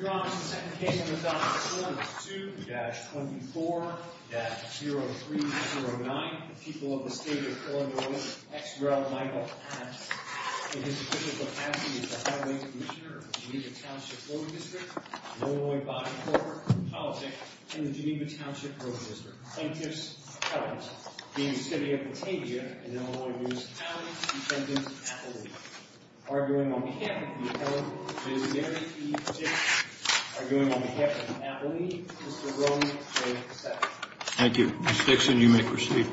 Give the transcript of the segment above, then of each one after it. Your Honor, the second case on the docket is Ordinance 2-24-0309, the People of the State of Colorado, ex rel. Michael Patton. In his official capacity as the highway commissioner of the Geneva Township Road District, an Illinois-bonded corporate and politic in the Geneva Township Road District. Plaintiffs held, v. City of Batavia, an Illinois municipality, defendant at the law. Arguing on behalf of the appellant, v. Mary T. Dickson. Arguing on behalf of the appellee, Mr. Rony J. Sexton. Thank you. Ms. Dixon, you may proceed.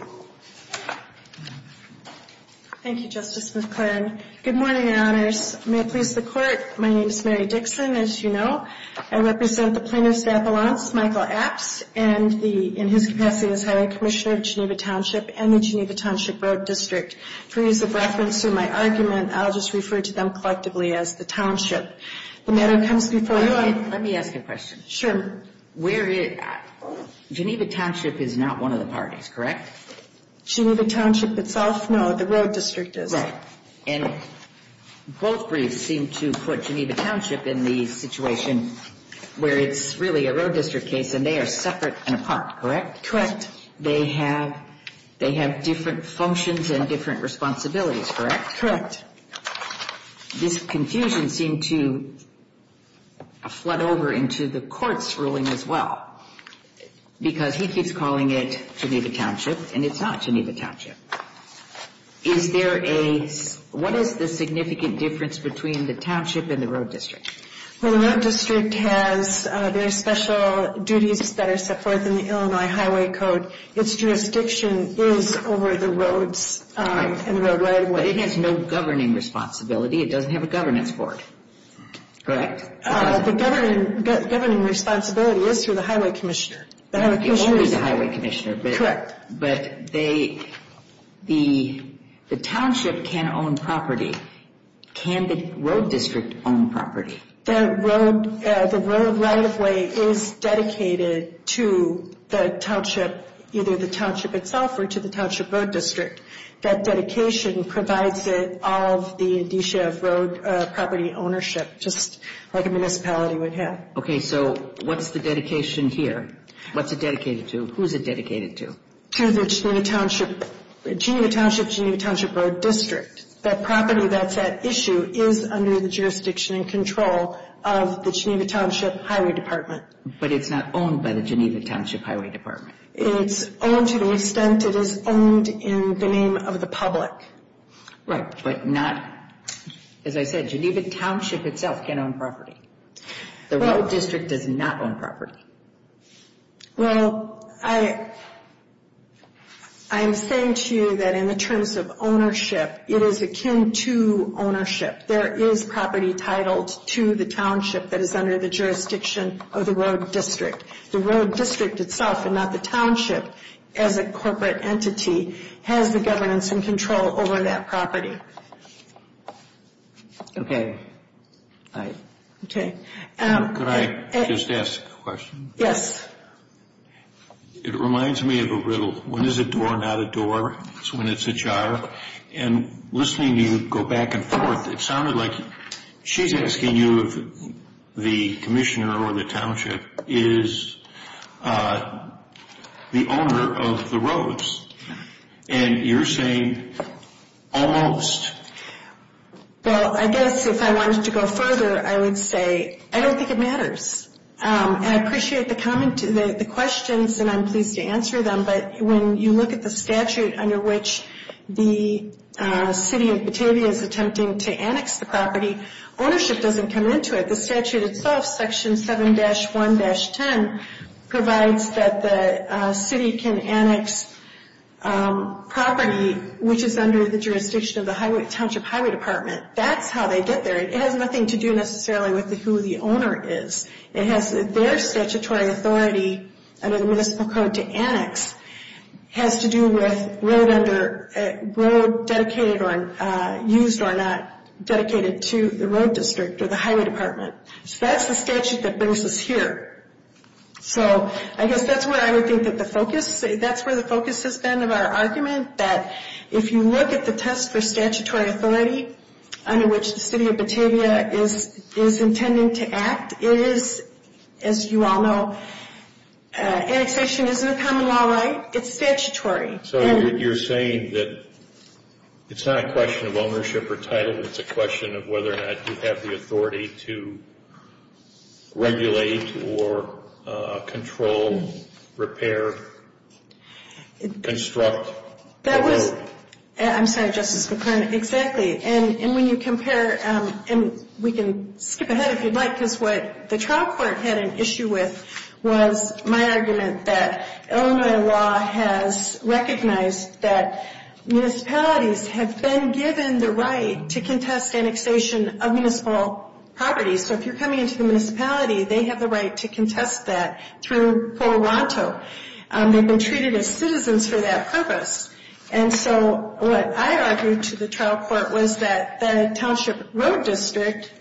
Thank you, Justice McClennan. Good morning, Your Honors. May it please the Court, my name is Mary Dixon, as you know. I represent the plaintiff's appellants, Michael Apts, and in his capacity as highway commissioner of Geneva Township and the Geneva Township Road District. For use of reference to my argument, I'll just refer to them collectively as the township. The matter comes before you on... Let me ask you a question. Sure. Where is... Geneva Township is not one of the parties, correct? Geneva Township itself? No, the road district is. Right. And both briefs seem to put Geneva Township in the situation where it's really a road district case and they are separate and apart, correct? Correct. They have different functions and different responsibilities, correct? This confusion seemed to flood over into the court's ruling as well because he keeps calling it Geneva Township and it's not Geneva Township. Is there a... What is the significant difference between the township and the road district? Well, the road district has very special duties that are set forth in the Illinois Highway Code. Its jurisdiction is over the roads and the roadway. But it has no governing responsibility. It doesn't have a governance board, correct? The governing responsibility is through the highway commissioner. It only is the highway commissioner. Correct. But they... The township can own property. Can the road district own property? The road right-of-way is dedicated to the township, either the township itself or to the township road district. That dedication provides it all of the indicia of road property ownership, just like a municipality would have. Okay, so what's the dedication here? What's it dedicated to? Who's it dedicated to? To the Geneva Township, Geneva Township Road District. That property that's at issue is under the jurisdiction and control of the Geneva Township Highway Department. But it's not owned by the Geneva Township Highway Department. It's owned to the extent it is owned in the name of the public. Right, but not... As I said, Geneva Township itself can't own property. The road district does not own property. Well, I... I'm saying to you that in the terms of ownership, it is akin to ownership. There is property titled to the township that is under the jurisdiction of the road district. The road district itself and not the township, as a corporate entity, has the governance and control over that property. Okay. Could I just ask a question? Yes. It reminds me of a riddle. When is a door not a door? It's when it's ajar. And listening to you go back and forth, it sounded like she's asking you if the commissioner or the township is the owner of the roads. And you're saying almost. Well, I guess if I wanted to go further, I would say I don't think it matters. And I appreciate the comment... the questions, and I'm pleased to answer them. But when you look at the statute under which the city of Batavia is attempting to annex the property, ownership doesn't come into it. The statute itself, section 7-1-10, provides that the city can annex property which is under the jurisdiction of the township highway department. That's how they get there. It has nothing to do necessarily with who the owner is. It has their statutory authority under the municipal code to annex has to do with road dedicated or used or not dedicated to the road district or the highway department. So that's the statute that brings us here. So I guess that's where I would think that the focus... that's where the focus has been of our argument. That if you look at the test for statutory authority under which the city of Batavia is intending to act, it is, as you all know, annexation isn't a common law right. It's statutory. So you're saying that it's not a question of ownership or title. It's a question of whether or not you have the authority to regulate or control, repair, construct... That was... I'm sorry, Justice McClernand. Exactly. And when you compare... and we can skip ahead if you'd like because what the trial court had an issue with was my argument that Illinois law has recognized that municipalities have been given the right to contest annexation of municipal property. So if you're coming into the municipality, they have the right to contest that through Colorado. They've been treated as citizens for that purpose. And so what I argued to the trial court was that the Township Road District,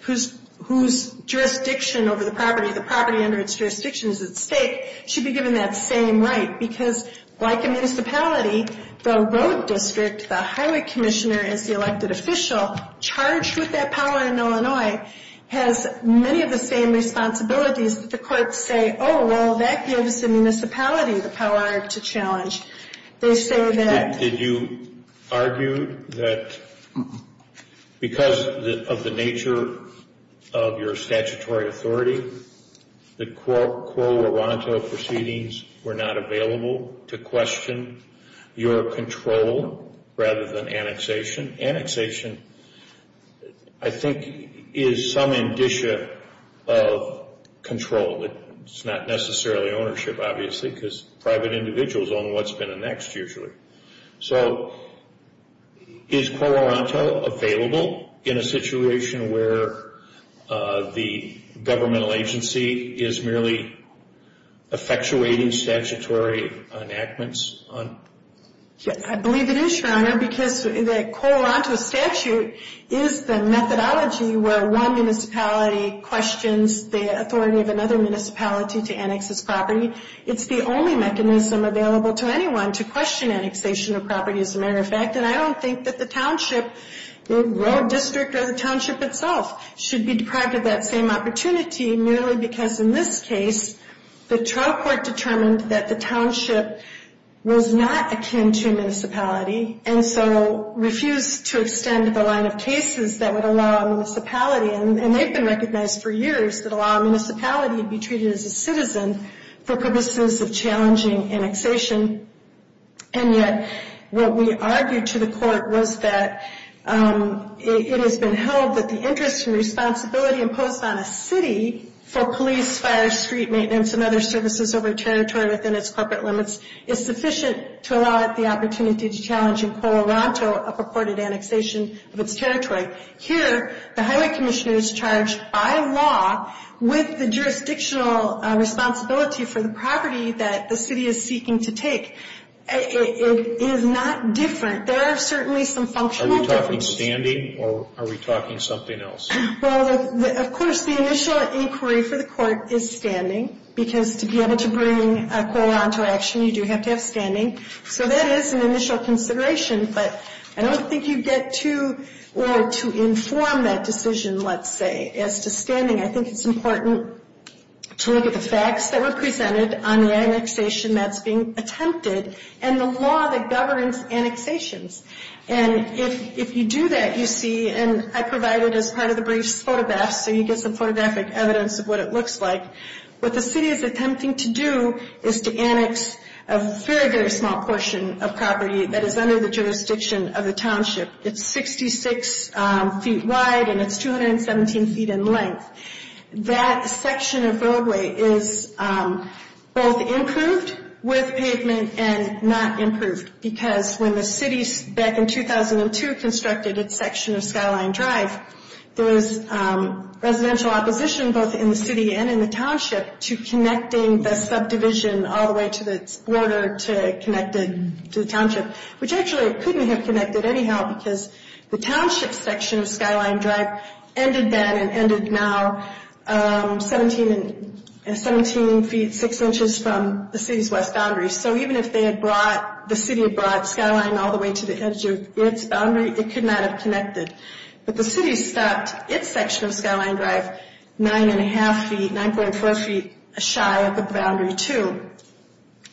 whose jurisdiction over the property, the property under its jurisdiction is at stake, should be given that same right. Because like a municipality, the road district, the highway commissioner is the elected official charged with that power in Illinois, has many of the same responsibilities that the courts say, oh, well, that gives the municipality the power to challenge. They say that... Did you argue that because of the nature of your statutory authority, the Colorado proceedings were not available to question your control rather than annexation? Annexation, I think, is some indicia of control. It's not necessarily ownership, obviously, because private individuals own what's been annexed, usually. So is Colorado available in a situation where the governmental agency is merely effectuating statutory enactments? I believe it is, Your Honor, because the Colorado statute is the methodology where one municipality questions the authority of another municipality to annex this property. It's the only mechanism available to anyone to question annexation of property, as a matter of fact. And I don't think that the township, the road district or the township itself, should be deprived of that same opportunity, merely because in this case, the trial court determined that the township was not akin to a municipality. And so refused to extend the line of cases that would allow a municipality, and they've been recognized for years, that allow a municipality to be treated as a citizen for purposes of challenging annexation. And yet, what we argued to the court was that it has been held that the interest and responsibility imposed on a city for police, fire, street maintenance and other services over territory within its corporate limits is sufficient to allow it the opportunity to challenge in Colorado a purported annexation of its territory. Here, the highway commissioner is charged by law with the jurisdictional responsibility for the property that the city is seeking to take. It is not different. There are certainly some functional differences. Are we talking standing or are we talking something else? Well, of course, the initial inquiry for the court is standing, because to be able to bring a quorum to action, you do have to have standing. So that is an initial consideration, but I don't think you get to or to inform that decision, let's say, as to standing. I think it's important to look at the facts that were presented on the annexation that's being attempted and the law that governs annexations. And if you do that, you see, and I provided as part of the briefs photographs, so you get some photographic evidence of what it looks like. What the city is attempting to do is to annex a very, very small portion of property that is under the jurisdiction of the township. It's 66 feet wide and it's 217 feet in length. That section of roadway is both improved with pavement and not improved, because when the city back in 2002 constructed its section of Skyline Drive, there was residential opposition both in the city and in the township to connecting the subdivision all the way to the border to connect it to the township, which actually it couldn't have connected anyhow, because the township section of Skyline Drive ended then and ended now 17 feet 6 inches from the city's west boundary. So even if they had brought, the city had brought Skyline all the way to the edge of its boundary, it could not have connected. But the city stopped its section of Skyline Drive 9 1⁄2 feet, 9.4 feet shy of the boundary too.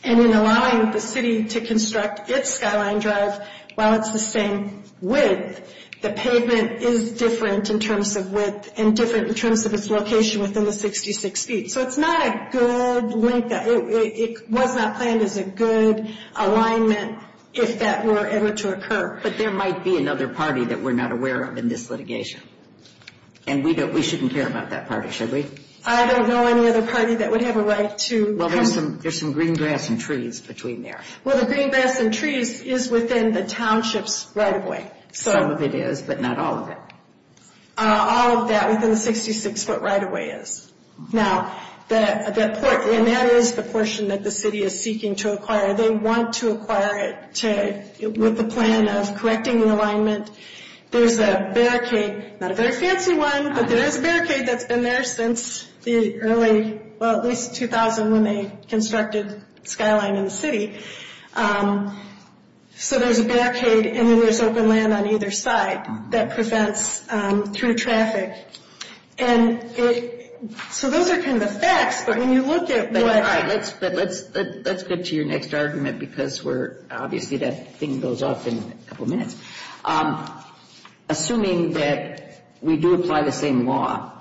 And in allowing the city to construct its Skyline Drive while it's the same width, the pavement is different in terms of width and different in terms of its location within the 66 feet. So it's not a good link, it was not planned as a good alignment if that were ever to occur. But there might be another party that we're not aware of in this litigation. And we shouldn't care about that party, should we? I don't know any other party that would have a right to. Well, there's some green grass and trees between there. Well, the green grass and trees is within the township's right-of-way. Some of it is, but not all of it. All of that within the 66 foot right-of-way is. And that is the portion that the city is seeking to acquire. They want to acquire it with the plan of correcting the alignment. There's a barricade, not a very fancy one, but there is a barricade that's been there since the early, well, at least 2000 when they constructed Skyline in the city. So there's a barricade and then there's open land on either side that prevents through traffic. And so those are kind of the facts, but when you look at what... All right, let's get to your next argument because we're, obviously that thing goes off in a couple minutes. Assuming that we do apply the same law,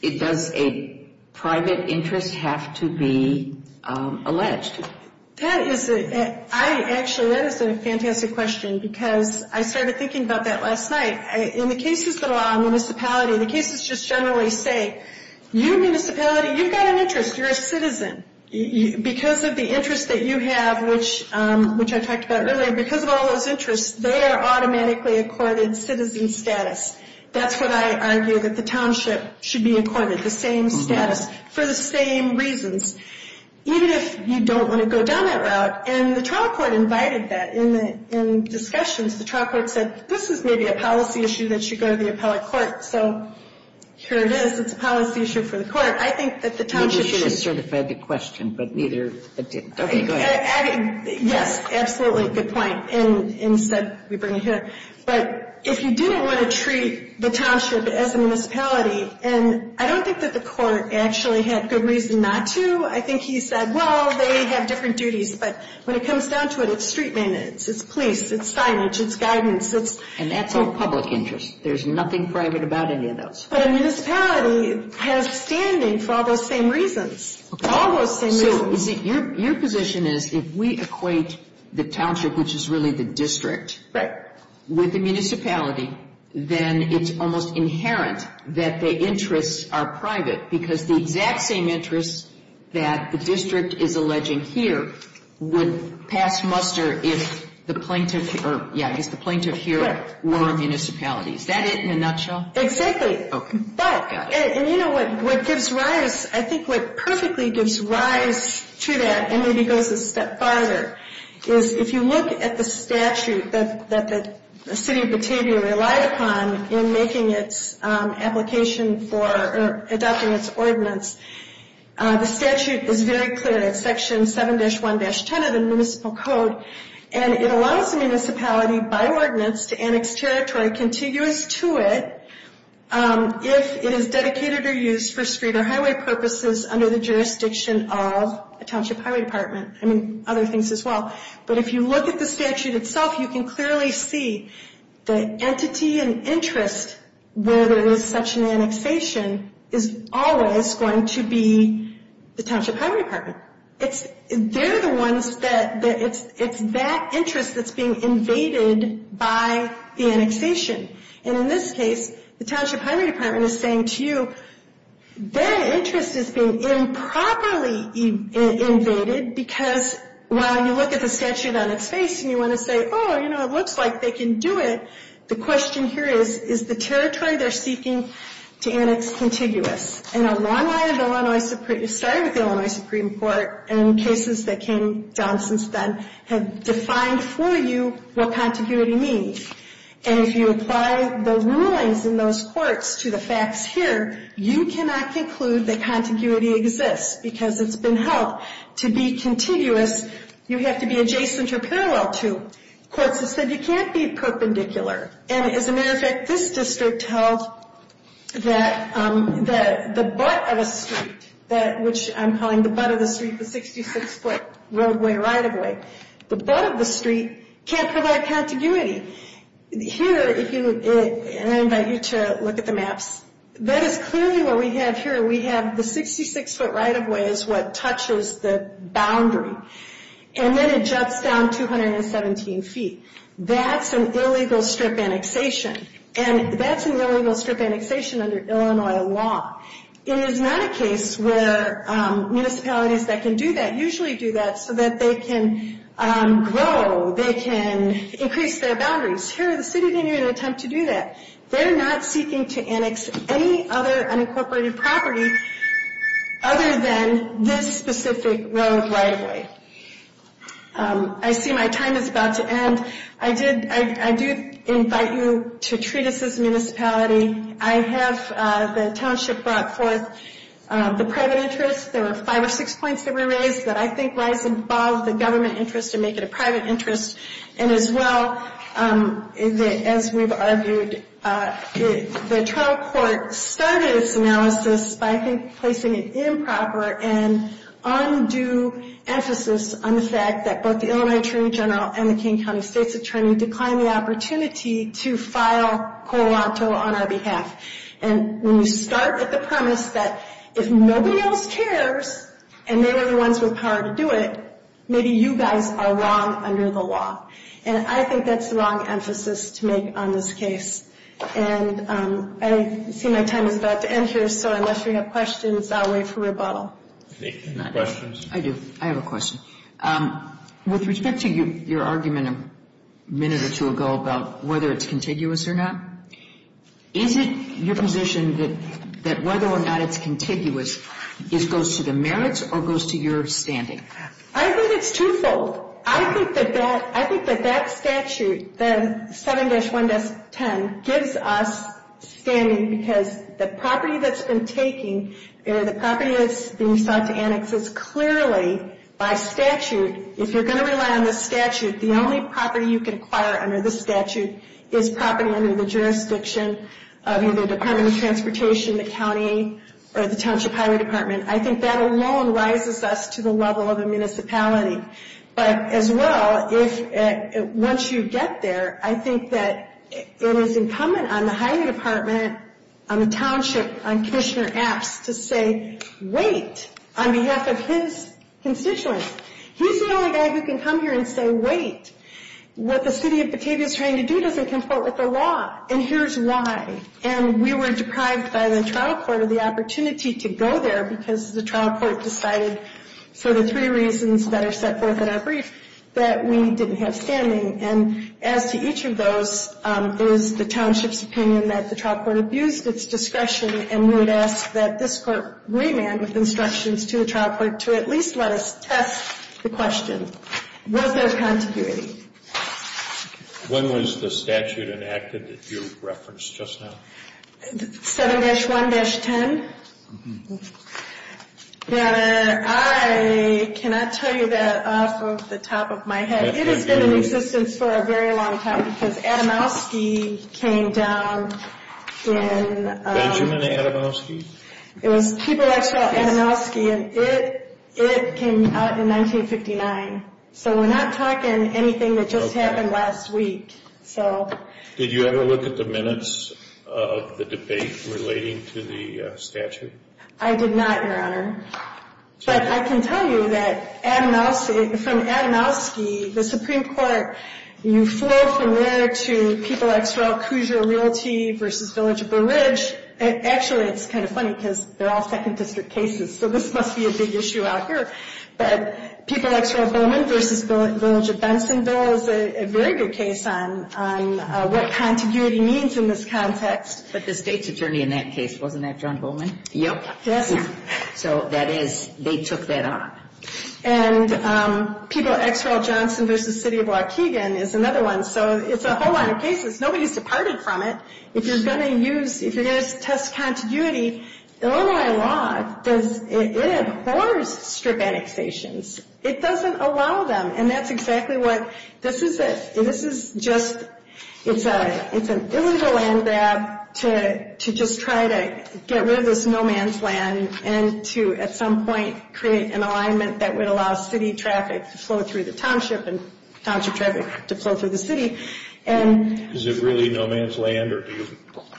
does a private interest have to be alleged? That is a, I actually, that is a fantastic question because I started thinking about that last night. In the cases that are on municipality, the cases just generally say, you municipality, you've got an interest. You're a citizen. Because of the interest that you have, which I talked about earlier, because of all those interests, they are automatically accorded citizen status. That's what I argue, that the township should be accorded the same status for the same reasons, even if you don't want to go down that route. And the trial court invited that in discussions. The trial court said, this is maybe a policy issue that should go to the appellate court. So here it is. It's a policy issue for the court. I think that the township should... You should have certified the question, but neither... Okay, go ahead. Yes, absolutely, good point, and said we bring it here. But if you didn't want to treat the township as a municipality, and I don't think that the court actually had good reason not to. I think he said, well, they have different duties, but when it comes down to it, it's street maintenance, it's police, it's signage, it's guidance. And that's all public interest. There's nothing private about any of those. But a municipality has standing for all those same reasons, all those same reasons. So your position is if we equate the township, which is really the district... With the municipality, then it's almost inherent that the interests are private, because the exact same interests that the district is alleging here would pass muster if the plaintiff... Yeah, if the plaintiff here were a municipality. Is that it in a nutshell? Exactly. Okay. And you know what gives rise... I think what perfectly gives rise to that, and maybe goes a step farther, is if you look at the statute that the city of Batavia relied upon in making its application for adopting its ordinance. The statute is very clear. It's Section 7-1-10 of the Municipal Code, and it allows the municipality by ordinance to annex territory contiguous to it if it is dedicated or used for street or highway purposes under the jurisdiction of a township highway department. I mean, other things as well. But if you look at the statute itself, you can clearly see the entity and interest where there is such an annexation is always going to be the township highway department. They're the ones that... it's that interest that's being invaded by the annexation. And in this case, the township highway department is saying to you, their interest is being improperly invaded because, while you look at the statute on its face and you want to say, oh, you know, it looks like they can do it, the question here is, is the territory they're seeking to annex contiguous? And a long line of Illinois... it started with Illinois Supreme Court, and cases that came down since then have defined for you what contiguity means. And if you apply the rulings in those courts to the facts here, you cannot conclude that contiguity exists because it's been held. To be contiguous, you have to be adjacent or parallel to. Courts have said you can't be perpendicular. And as a matter of fact, this district held that the butt of a street, which I'm calling the butt of the street, the 66-foot roadway, right-of-way, the butt of the street can't provide contiguity. Here, if you... and I invite you to look at the maps. That is clearly what we have here. We have the 66-foot right-of-way is what touches the boundary. And then it juts down 217 feet. That's an illegal strip annexation. And that's an illegal strip annexation under Illinois law. It is not a case where municipalities that can do that usually do that so that they can grow, they can increase their boundaries. Here, the city didn't even attempt to do that. They're not seeking to annex any other unincorporated property other than this specific road right-of-way. I see my time is about to end. I do invite you to treat us as a municipality. I have the township brought forth the private interest. There were five or six points that were raised that I think rise above the government interest and make it a private interest. And as well, as we've argued, the trial court started its analysis by placing an improper and undue emphasis on the fact that both the Illinois Attorney General and the King County State's Attorney declined the opportunity to file Colorado on our behalf. And when you start at the premise that if nobody else cares and they were the ones with power to do it, maybe you guys are wrong under the law. And I think that's the wrong emphasis to make on this case. And I see my time is about to end here, so unless you have questions, I'll wait for rebuttal. Questions? I do. I have a question. With respect to your argument a minute or two ago about whether it's contiguous or not, is it your position that whether or not it's contiguous goes to the merits or goes to your standing? I think it's twofold. I think that that statute, the 7-1-10, gives us standing because the property that's been taken, the property that's being sought to annex is clearly by statute. If you're going to rely on the statute, the only property you can acquire under the statute is property under the jurisdiction of either the Department of Transportation, the county, or the Township Highway Department. I think that alone rises us to the level of a municipality. But as well, once you get there, I think that it is incumbent on the Highway Department, on the Township, on Commissioner Apps to say, wait, on behalf of his constituents. He's the only guy who can come here and say, wait, what the city of Batavia is trying to do doesn't conform with the law, and here's why. And we were deprived by the trial court of the opportunity to go there because the trial court decided for the three reasons that are set forth in our brief that we didn't have standing. And as to each of those, it was the township's opinion that the trial court abused its discretion, and we would ask that this court remand with instructions to the trial court to at least let us test the question. Was there contiguity? When was the statute enacted that you referenced just now? 7-1-10. Your Honor, I cannot tell you that off of the top of my head. It has been in existence for a very long time because Adamowski came down in 1959. So we're not talking anything that just happened last week. Did you ever look at the minutes of the debate relating to the statute? I did not, Your Honor. But I can tell you that from Adamowski, the Supreme Court, you flow from there to People X. Raul, Coosier Realty v. Village of the Ridge. Actually, it's kind of funny because they're all Second District cases, so this must be a big issue out here. But People X. Raul Bowman v. Village of Bensonville is a very good case on what contiguity means in this context. But the state's attorney in that case, wasn't that John Bowman? Yep. So that is, they took that on. And People X. Raul Johnson v. City of Waukegan is another one. So it's a whole line of cases. Nobody's departed from it. If you're going to use, if you're going to test contiguity, Illinois law, it abhors strip annexations. It doesn't allow them. And that's exactly what, this is just, it's an illegal land grab to just try to get rid of this no man's land and to at some point create an alignment that would allow city traffic to flow through the township and township traffic to flow through the city. Is it really no man's land or do you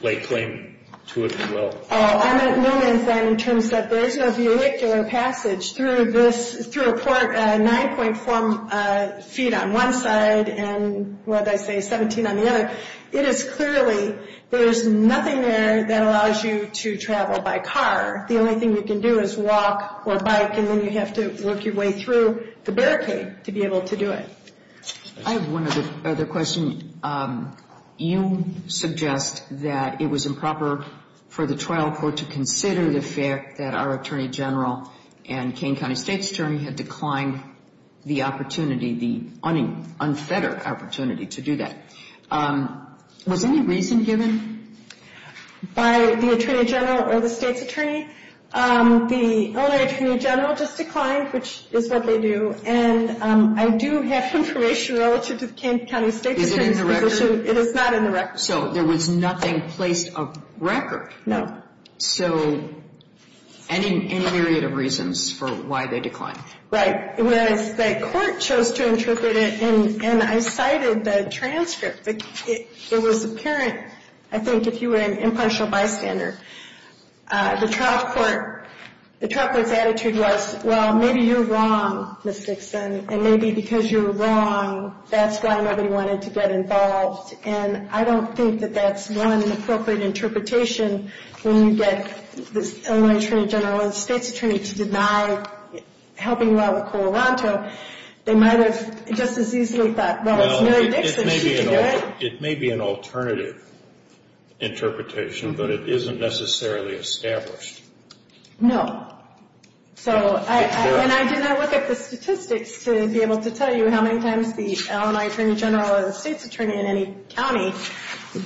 lay claim to it as well? No man's land in terms that there is no vehicular passage through this, through a port 9.4 feet on one side and, what did I say, 17 on the other. It is clearly, there is nothing there that allows you to travel by car. The only thing you can do is walk or bike and then you have to work your way through the barricade to be able to do it. I have one other question. You suggest that it was improper for the trial court to consider the fact that our Attorney General and Kane County State's Attorney had declined the opportunity, the unfettered opportunity to do that. Was any reason given? By the Attorney General or the State's Attorney? The Illinois Attorney General just declined, which is what they do, and I do have information relative to the Kane County State's Attorney's position. Is it in the record? It is not in the record. So there was nothing placed on record? No. So any myriad of reasons for why they declined? Right. Whereas the court chose to interpret it and I cited the transcript. It was apparent, I think, if you were an impartial bystander, the trial court's attitude was, well, maybe you're wrong, Ms. Dixon, and maybe because you're wrong, that's why nobody wanted to get involved. And I don't think that that's one appropriate interpretation when you get the Illinois Attorney General and the State's Attorney to deny helping you out with Colorado. They might have just as easily thought, well, it's Mary Dixon, she can do it. It may be an alternative interpretation, but it isn't necessarily established. No. And I did not look at the statistics to be able to tell you how many times the Illinois Attorney General or the State's Attorney in any county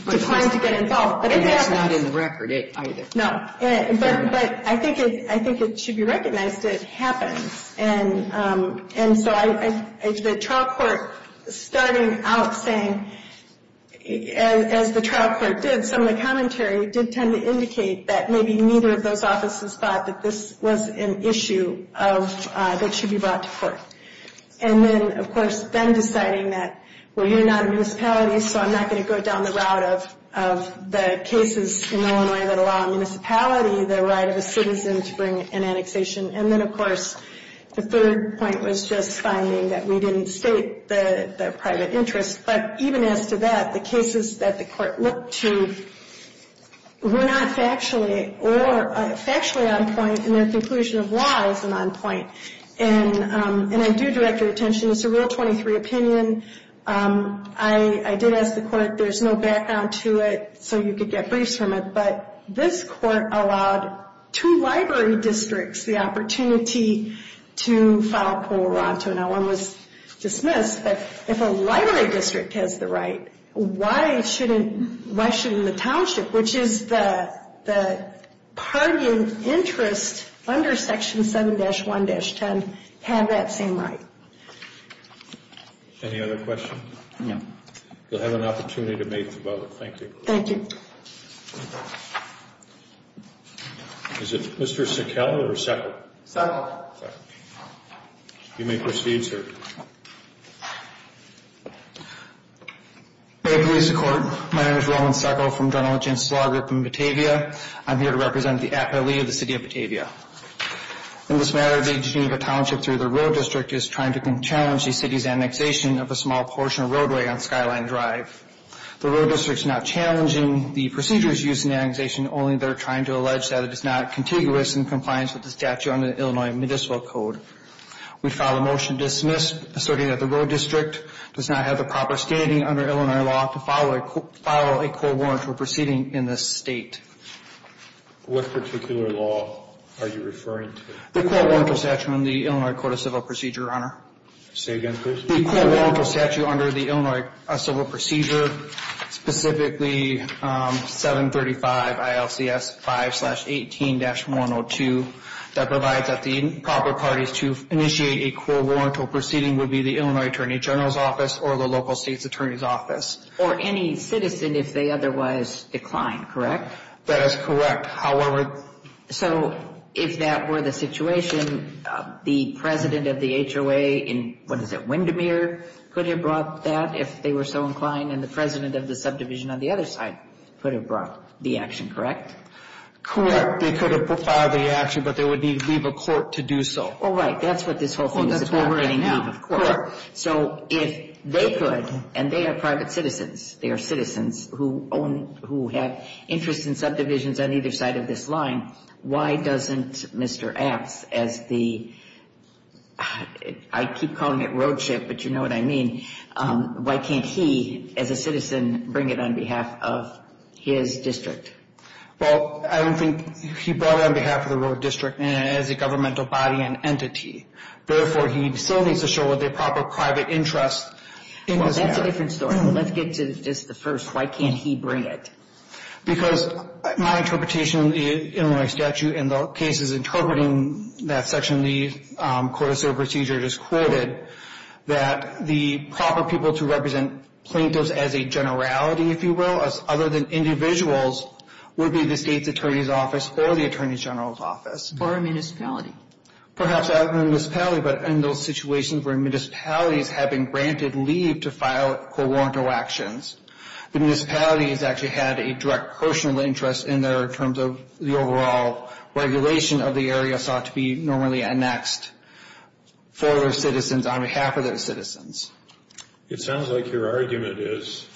declined to get involved. And it's not in the record either. No. But I think it should be recognized it happens. And so the trial court starting out saying, as the trial court did, did tend to indicate that maybe neither of those offices thought that this was an issue that should be brought to court. And then, of course, then deciding that, well, you're not a municipality, so I'm not going to go down the route of the cases in Illinois that allow a municipality the right of a citizen to bring an annexation. And then, of course, the third point was just finding that we didn't state the private interest. But even as to that, the cases that the court looked to were not factually or factually on point, and their conclusion of why isn't on point. And I do direct your attention, it's a Rule 23 opinion. I did ask the court, there's no background to it, so you could get briefs from it, but this court allowed two library districts the opportunity to file Pueblo-Oronto. Now, one was dismissed, but if a library district has the right, why shouldn't the township, which is the parking interest under Section 7-1-10, have that same right? Any other questions? No. You'll have an opportunity to make the vote. Thank you. Thank you. Is it Mr. Sekel or Sekel? Sekel. You may proceed, sir. May it please the Court. My name is Roland Sekel from General Jensen's Law Group in Batavia. I'm here to represent the Appellee of the City of Batavia. In this matter, the Geneva Township through the Road District is trying to challenge the city's annexation of a small portion of roadway on Skyline Drive. The Road District is not challenging the procedures used in the annexation, only they're trying to allege that it is not contiguous in compliance with the statute under the Illinois Municipal Code. We file a motion to dismiss, asserting that the Road District does not have the proper standing under Illinois law to follow a court warrant for proceeding in this state. What particular law are you referring to? The court warrant for statute under the Illinois Code of Civil Procedure, Your Honor. Say again, please. The court warrant for statute under the Illinois Civil Procedure, specifically 735 ILCS 5-18-102, that provides that the proper parties to initiate a court warrant for proceeding would be the Illinois Attorney General's Office or the local state's attorney's office. Or any citizen if they otherwise decline, correct? That is correct. So if that were the situation, the president of the HOA in, what is it, Windermere, could have brought that if they were so inclined, and the president of the subdivision on the other side could have brought the action, correct? Correct. They could have filed the action, but they would need to leave a court to do so. Oh, right. That's what this whole thing is about right now. So if they could, and they are private citizens, they are citizens who own, who have interest in subdivisions on either side of this line, why doesn't Mr. Apps, as the, I keep calling it roadship, but you know what I mean, why can't he, as a citizen, bring it on behalf of his district? Well, I don't think he brought it on behalf of the road district as a governmental body and entity. Therefore, he still needs to show what the proper private interest in this matter. That's a different story. Let's get to just the first. Why can't he bring it? Because my interpretation in the Illinois statute, and the case is interpreting that section of the court of civil procedure I just quoted, that the proper people to represent plaintiffs as a generality, if you will, other than individuals, would be the state's attorney's office or the attorney general's office. Or a municipality. Perhaps not in a municipality, but in those situations where municipalities have been granted leave to file corrupt actions, the municipality has actually had a direct personal interest in there in terms of the overall regulation of the area sought to be normally annexed for their citizens on behalf of their citizens. It sounds like your argument is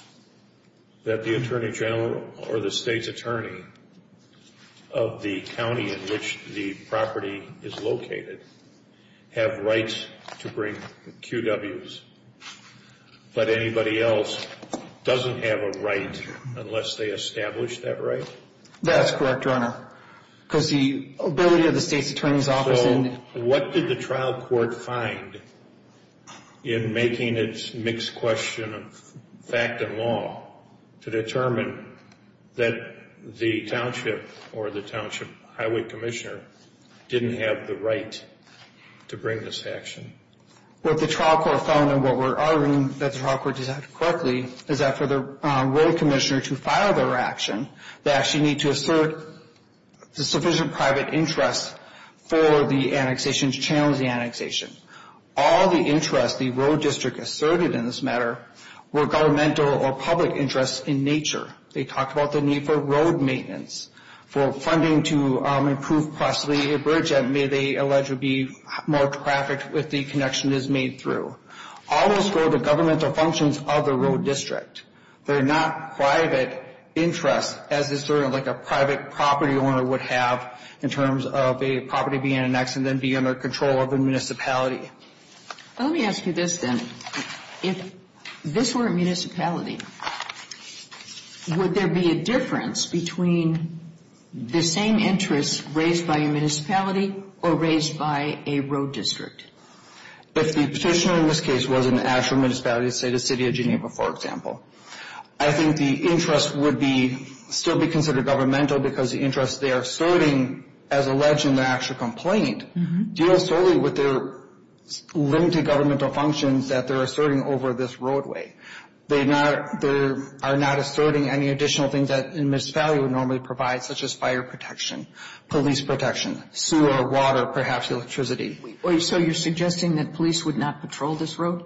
that the attorney general or the state's attorney of the county in which the property is located have rights to bring QWs, but anybody else doesn't have a right unless they establish that right? That's correct, Your Honor, because the ability of the state's attorney's office in So what did the trial court find in making its mixed question of fact and law to determine that the township or the township highway commissioner didn't have the right to bring this action? What the trial court found and what we're arguing that the trial court did correctly is that for the road commissioner to file their action, they actually need to assert sufficient private interest for the annexation, to challenge the annexation. All the interests the road district asserted in this matter were governmental or public interests in nature. They talked about the need for road maintenance, for funding to improve cross the bridge that may they allege would be more trafficked if the connection is made through. All of those were the governmental functions of the road district. They're not private interests as a private property owner would have in terms of a property being annexed and then being under control of a municipality. Let me ask you this then. If this were a municipality, would there be a difference between the same interests raised by a municipality or raised by a road district? If the petitioner in this case was an actual municipality, say the city of Geneva, for example, I think the interest would still be considered governmental because the interest they are asserting as alleged in the actual complaint deals solely with their limited governmental functions that they're asserting over this roadway. They are not asserting any additional things that a municipality would normally provide, such as fire protection, police protection, sewer, water, perhaps electricity. So you're suggesting that police would not patrol this road?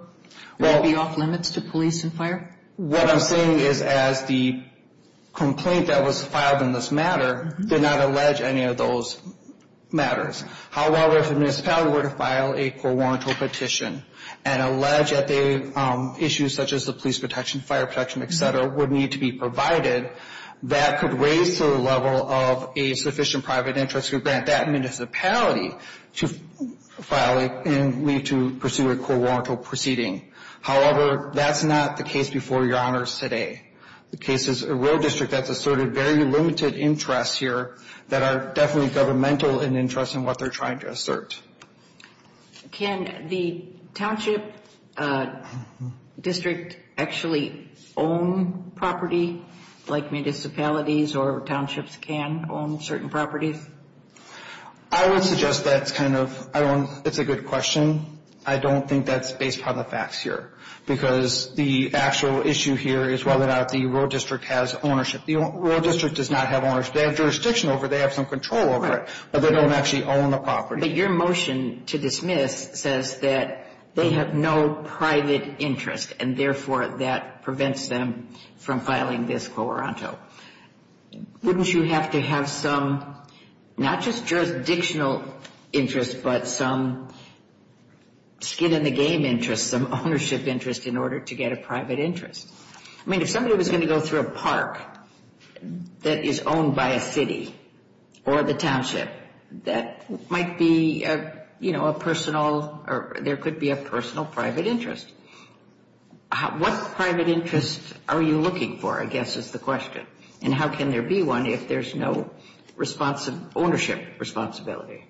They would be off limits to police and fire? What I'm saying is as the complaint that was filed in this matter did not allege any of those matters. However, if a municipality were to file a core warrantor petition and allege that issues such as the police protection, fire protection, et cetera, would need to be provided, that could raise to the level of a sufficient private interest to grant that municipality to file and leave to pursue a core warrantor proceeding. However, that's not the case before Your Honors today. The case is a road district that's asserted very limited interests here that are definitely governmental in interest in what they're trying to assert. Can the township district actually own property like municipalities or townships can own certain properties? I would suggest that's kind of, I don't, it's a good question. I don't think that's based on the facts here because the actual issue here is whether or not the road district has ownership. The road district does not have ownership. They have jurisdiction over it. They have some control over it. But they don't actually own the property. But your motion to dismiss says that they have no private interest and therefore that prevents them from filing this core warrantor. Wouldn't you have to have some, not just jurisdictional interest, but some skin in the game interest, some ownership interest in order to get a private interest? I mean, if somebody was going to go through a park that is owned by a city or the township, that might be, you know, a personal, or there could be a personal private interest. What private interest are you looking for, I guess, is the question. And how can there be one if there's no ownership responsibility?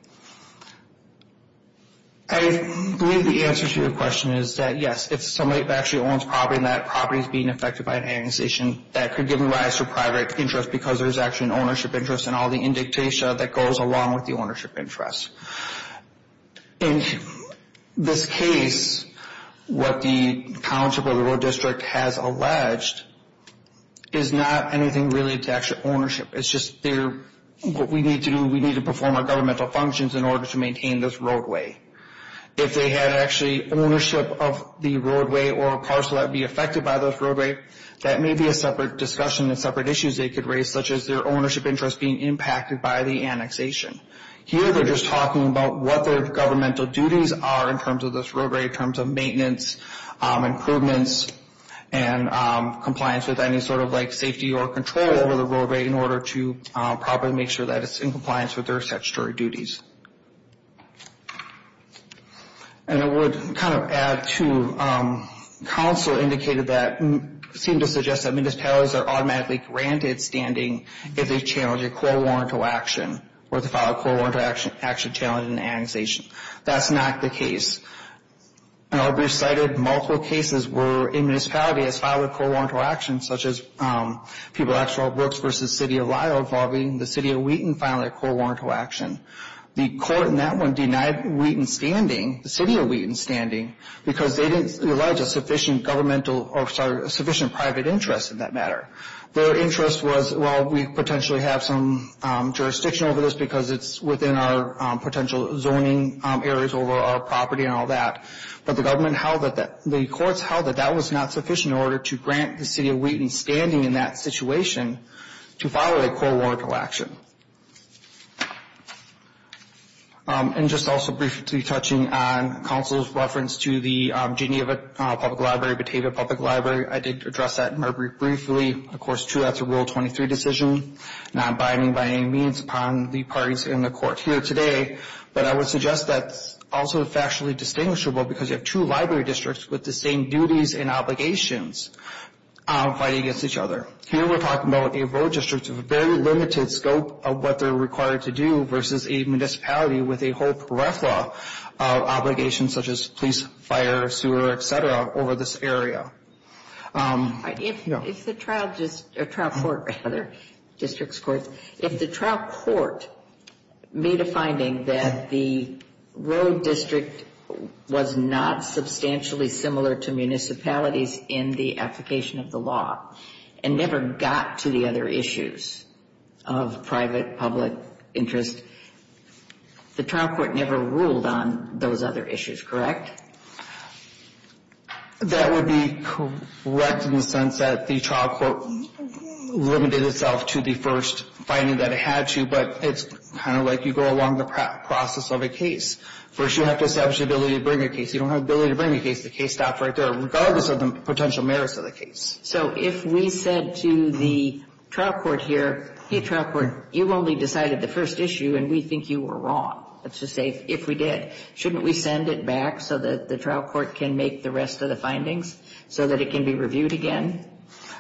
I believe the answer to your question is that, yes, if somebody actually owns property and that property is being affected by an annexation, that could give rise to private interest because there's actually an ownership interest and all the indictation that goes along with the ownership interest. In this case, what the township or the road district has alleged is not anything related to actual ownership. It's just what we need to do, we need to perform our governmental functions in order to maintain this roadway. If they had actually ownership of the roadway or a parcel that would be affected by this roadway, that may be a separate discussion and separate issues they could raise, such as their ownership interest being impacted by the annexation. Here, they're just talking about what their governmental duties are in terms of this roadway, in terms of maintenance, improvements, and compliance with any sort of, like, safety or control over the roadway in order to properly make sure that it's in compliance with their statutory duties. And I would kind of add to, council indicated that, seemed to suggest that municipalities are automatically granted standing if they challenge a court-warranted action or if they file a court-warranted action challenge in the annexation. That's not the case. And I'll be reciting multiple cases where a municipality has filed a court-warranted action, such as Pueblo Actual Brooks v. City of Lyle involving the City of Wheaton filing a court-warranted action. The court in that one denied Wheaton standing, the City of Wheaton standing, because they didn't allege a sufficient governmental, or sorry, sufficient private interest in that matter. Their interest was, well, we potentially have some jurisdiction over this because it's within our potential zoning areas over our property and all that. But the government held that that, the courts held that that was not sufficient in order to grant the City of Wheaton standing in that situation to file a court-warranted action. And just also briefly touching on council's reference to the Geneva Public Library, Batavia Public Library. I did address that more briefly. Of course, true, that's a Rule 23 decision, not binding by any means upon the parties in the court here today. But I would suggest that's also factually distinguishable because you have two library districts with the same duties and obligations fighting against each other. Here we're talking about a road district with a very limited scope of what they're required to do If the trial just, or trial court rather, district courts, if the trial court made a finding that the road district was not substantially similar to municipalities in the application of the law and never got to the other issues of private, public interest, the trial court never ruled on those other issues, correct? That would be correct in the sense that the trial court limited itself to the first finding that it had to, but it's kind of like you go along the process of a case. First, you have to establish the ability to bring a case. You don't have the ability to bring a case. The case stops right there, regardless of the potential merits of the case. So if we said to the trial court here, hey, trial court, you only decided the first issue and we think you were wrong. Let's just say if we did, shouldn't we send it back so that the trial court can make the rest of the findings so that it can be reviewed again?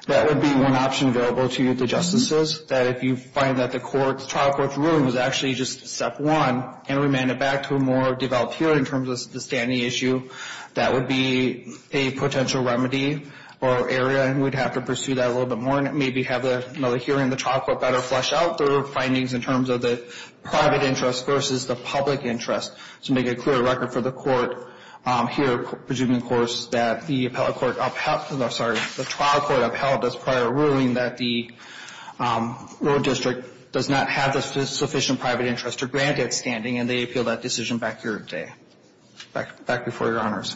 That would be one option available to the justices. That if you find that the trial court's ruling was actually just step one and remanded back to a more developed hearing in terms of the standing issue, that would be a potential remedy or area, and we'd have to pursue that a little bit more and maybe have another hearing the trial court better flesh out their findings in terms of the private interest versus the public interest to make a clear record for the court here, presuming, of course, that the trial court upheld this prior ruling that the rural district does not have the sufficient private interest to grant it standing, and they appeal that decision back here today, back before Your Honors.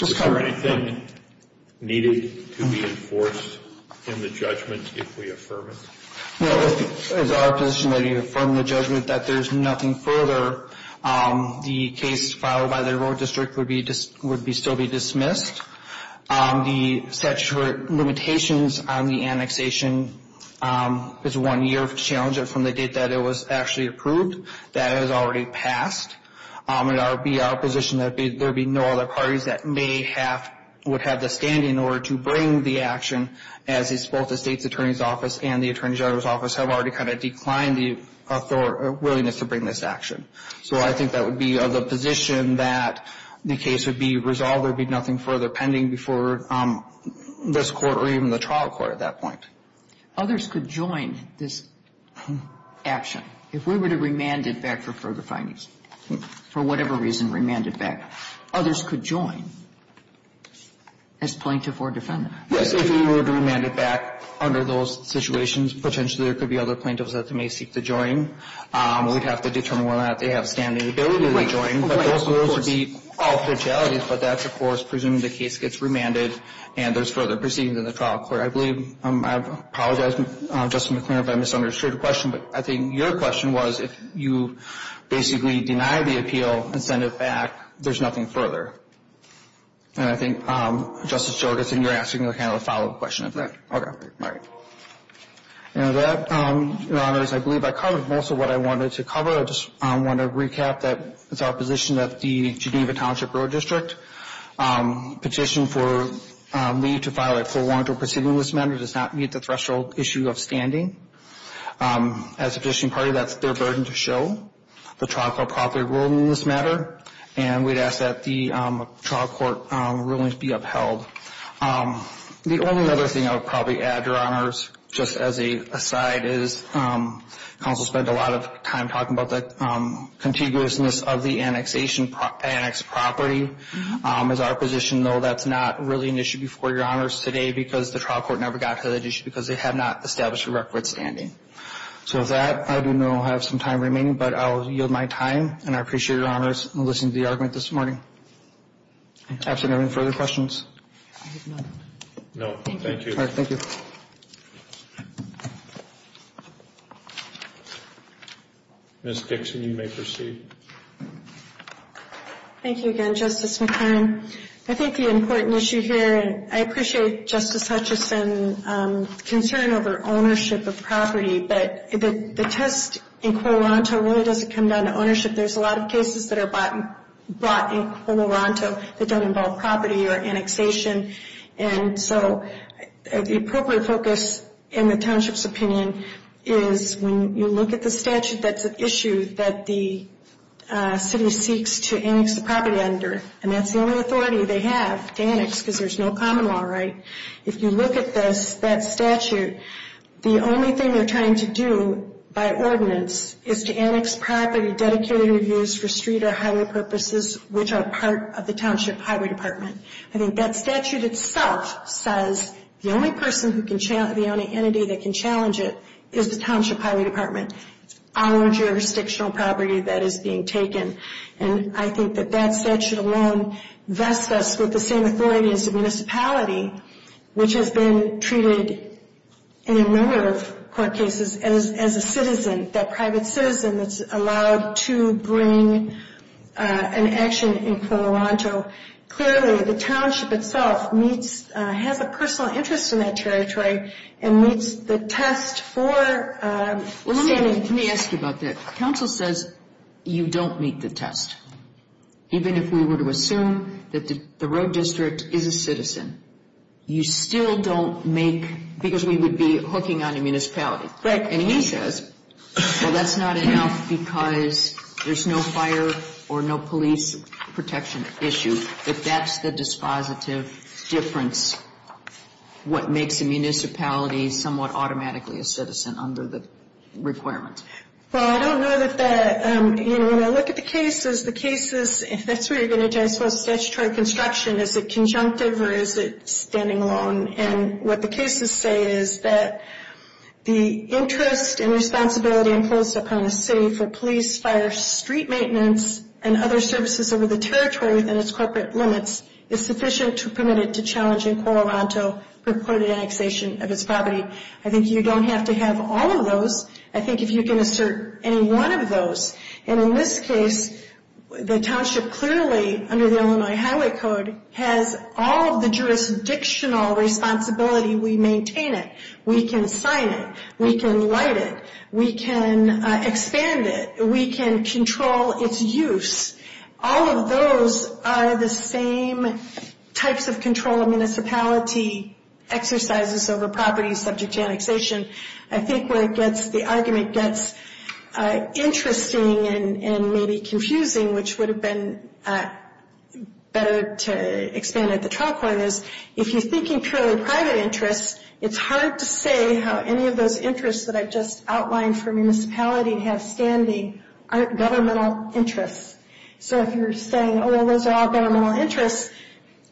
Is there anything needed to be enforced in the judgment if we affirm it? No. It's our position that if you affirm the judgment that there's nothing further, the case filed by the rural district would still be dismissed. The statute of limitations would still be in effect. The statute of limitations on the annexation is one year challenge from the date that it was actually approved. That has already passed. It would be our position that there would be no other parties that would have the standing in order to bring the action, as both the state's attorney's office and the attorney general's office have already kind of declined the willingness to bring this action. So I think that would be the position that the case would be resolved. There would be nothing further pending before this Court or even the trial court at that point. Others could join this action. If we were to remand it back for further findings, for whatever reason remand it back, others could join as plaintiff or defendant. Yes, if we were to remand it back under those situations, potentially there could be other plaintiffs that may seek to join. We'd have to determine whether or not they have standing ability to join. Those would be all potentialities, but that's, of course, presuming the case gets remanded and there's further proceedings in the trial court. I believe, I apologize, Justice McClure, if I misunderstood your question, but I think your question was if you basically deny the appeal and send it back, there's nothing further. And I think, Justice Jordan, you're asking kind of a follow-up question of that. All right. Now that, Your Honors, I believe I covered most of what I wanted to cover. I just want to recap that it's our position that the Geneva Township Road District petition for leave to file a full warrant or proceeding in this matter does not meet the threshold issue of standing. As a petition party, that's their burden to show. The trial court properly ruled in this matter, and we'd ask that the trial court rulings be upheld. The only other thing I would probably add, Your Honors, just as an aside, is counsel spent a lot of time talking about the contiguousness of the annexed property. As our position, though, that's not really an issue before Your Honors today because the trial court never got to that issue because they had not established a record of standing. So with that, I do know I have some time remaining, but I'll yield my time, and I appreciate it, Your Honors, in listening to the argument this morning. Absolutely. Any further questions? I have none. No. Thank you. All right. Thank you. Ms. Dixon, you may proceed. Thank you again, Justice McCann. I think the important issue here, and I appreciate Justice Hutchison's concern over ownership of property, but the test in quo ronto really doesn't come down to ownership. There's a lot of cases that are brought in quo ronto that don't involve property or annexation. So the appropriate focus in the township's opinion is when you look at the statute, that's an issue that the city seeks to annex the property under, and that's the only authority they have to annex because there's no common law right. If you look at that statute, the only thing they're trying to do by ordinance is to annex property dedicated or used for street or highway purposes which are part of the township highway department. I think that statute itself says the only entity that can challenge it is the township highway department, our jurisdictional property that is being taken. And I think that that statute alone vests us with the same authority as the municipality, which has been treated in a number of court cases as a citizen, that private citizen that's allowed to bring an action in quo ronto. Clearly, the township itself has a personal interest in that territory and meets the test for standing. Let me ask you about that. Council says you don't meet the test. Even if we were to assume that the road district is a citizen, you still don't make, because we would be hooking on a municipality. Right. And he says, well, that's not enough because there's no fire or no police protection issue. If that's the dispositive difference, what makes a municipality somewhat automatically a citizen under the requirements? Well, I don't know that that, you know, when I look at the cases, the cases, if that's what you're going to judge for statutory construction, is it conjunctive or is it standing alone? And what the cases say is that the interest and responsibility imposed upon a city for police, fire, street maintenance, and other services over the territory within its corporate limits is sufficient to permit it to challenge in quo ronto reported annexation of its property. I think you don't have to have all of those. I think if you can assert any one of those, and in this case, the township clearly, under the Illinois Highway Code, has all of the jurisdictional responsibility. We maintain it. We can sign it. We can light it. We can expand it. We can control its use. All of those are the same types of control a municipality exercises over property subject to annexation. I think where it gets, the argument gets interesting and maybe confusing, which would have been better to expand at the trial court is, if you're thinking purely private interests, it's hard to say how any of those interests that I've just outlined for a municipality have standing aren't governmental interests. So if you're saying, oh, well, those are all governmental interests,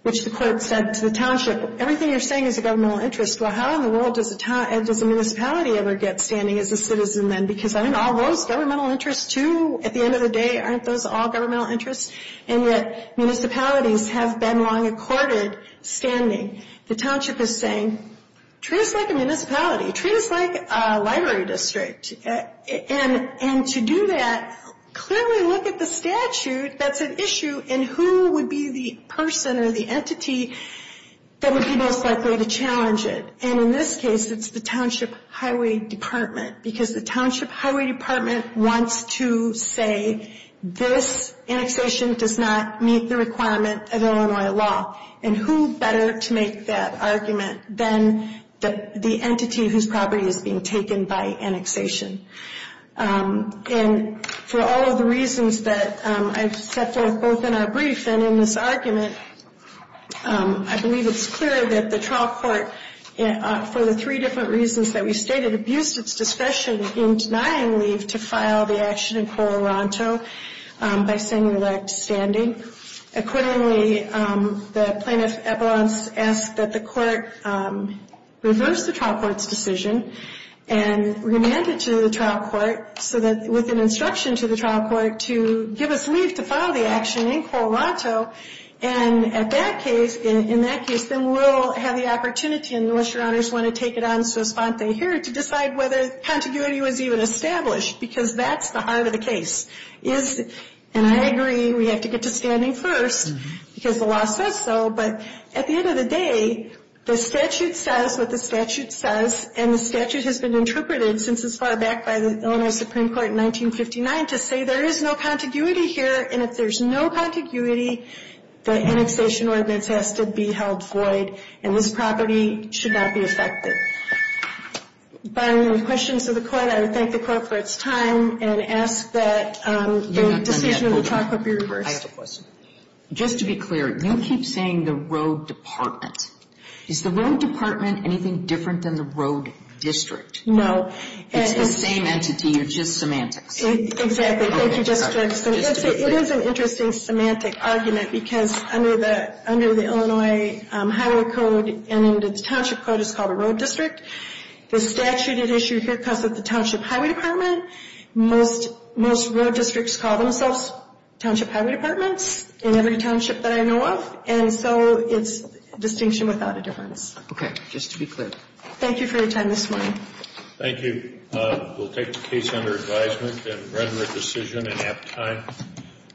which the court said to the township, everything you're saying is a governmental interest. Well, how in the world does a municipality ever get standing as a citizen then? Because aren't all those governmental interests too? At the end of the day, aren't those all governmental interests? And yet municipalities have been long accorded standing. The township is saying, treat us like a municipality. Treat us like a library district. And to do that, clearly look at the statute that's an issue and who would be the person or the entity that would be most likely to challenge it. And in this case, it's the township highway department because the township highway department wants to say, this annexation does not meet the requirement of Illinois law. And who better to make that argument than the entity whose property is being taken by annexation? And for all of the reasons that I've said both in our brief and in this argument, I believe it's clear that the trial court, for the three different reasons that we stated, abused its discretion in denying leave to file the action in Colorado by saying it lacked standing. Accordingly, the plaintiff's abalance asked that the court reverse the trial court's decision. And remand it to the trial court with an instruction to the trial court to give us leave to file the action in Colorado. And in that case, then we'll have the opportunity, unless your honors want to take it on so sponte here, to decide whether contiguity was even established because that's the heart of the case. And I agree we have to get to standing first because the law says so, but at the end of the day, the statute says what the statute says and the statute has been interpreted since as far back by the Illinois Supreme Court in 1959 to say there is no contiguity here. And if there's no contiguity, the annexation ordinance has to be held void and this property should not be affected. By way of questions to the court, I would thank the court for its time and ask that the decision of the trial court be reversed. I have a question. Just to be clear, you keep saying the rogue department. Is the rogue department anything different than the road district? It's the same entity or just semantics? Exactly. Thank you, District. It is an interesting semantic argument because under the Illinois Highway Code and into the Township Code, it's called a road district. The statute at issue here comes with the Township Highway Department. Most road districts call themselves Township Highway Departments in every township that I know of. And so it's distinction without a difference. Okay. Just to be clear. Thank you for your time this morning. Thank you. We'll take the case under advisement and render a decision in apt time.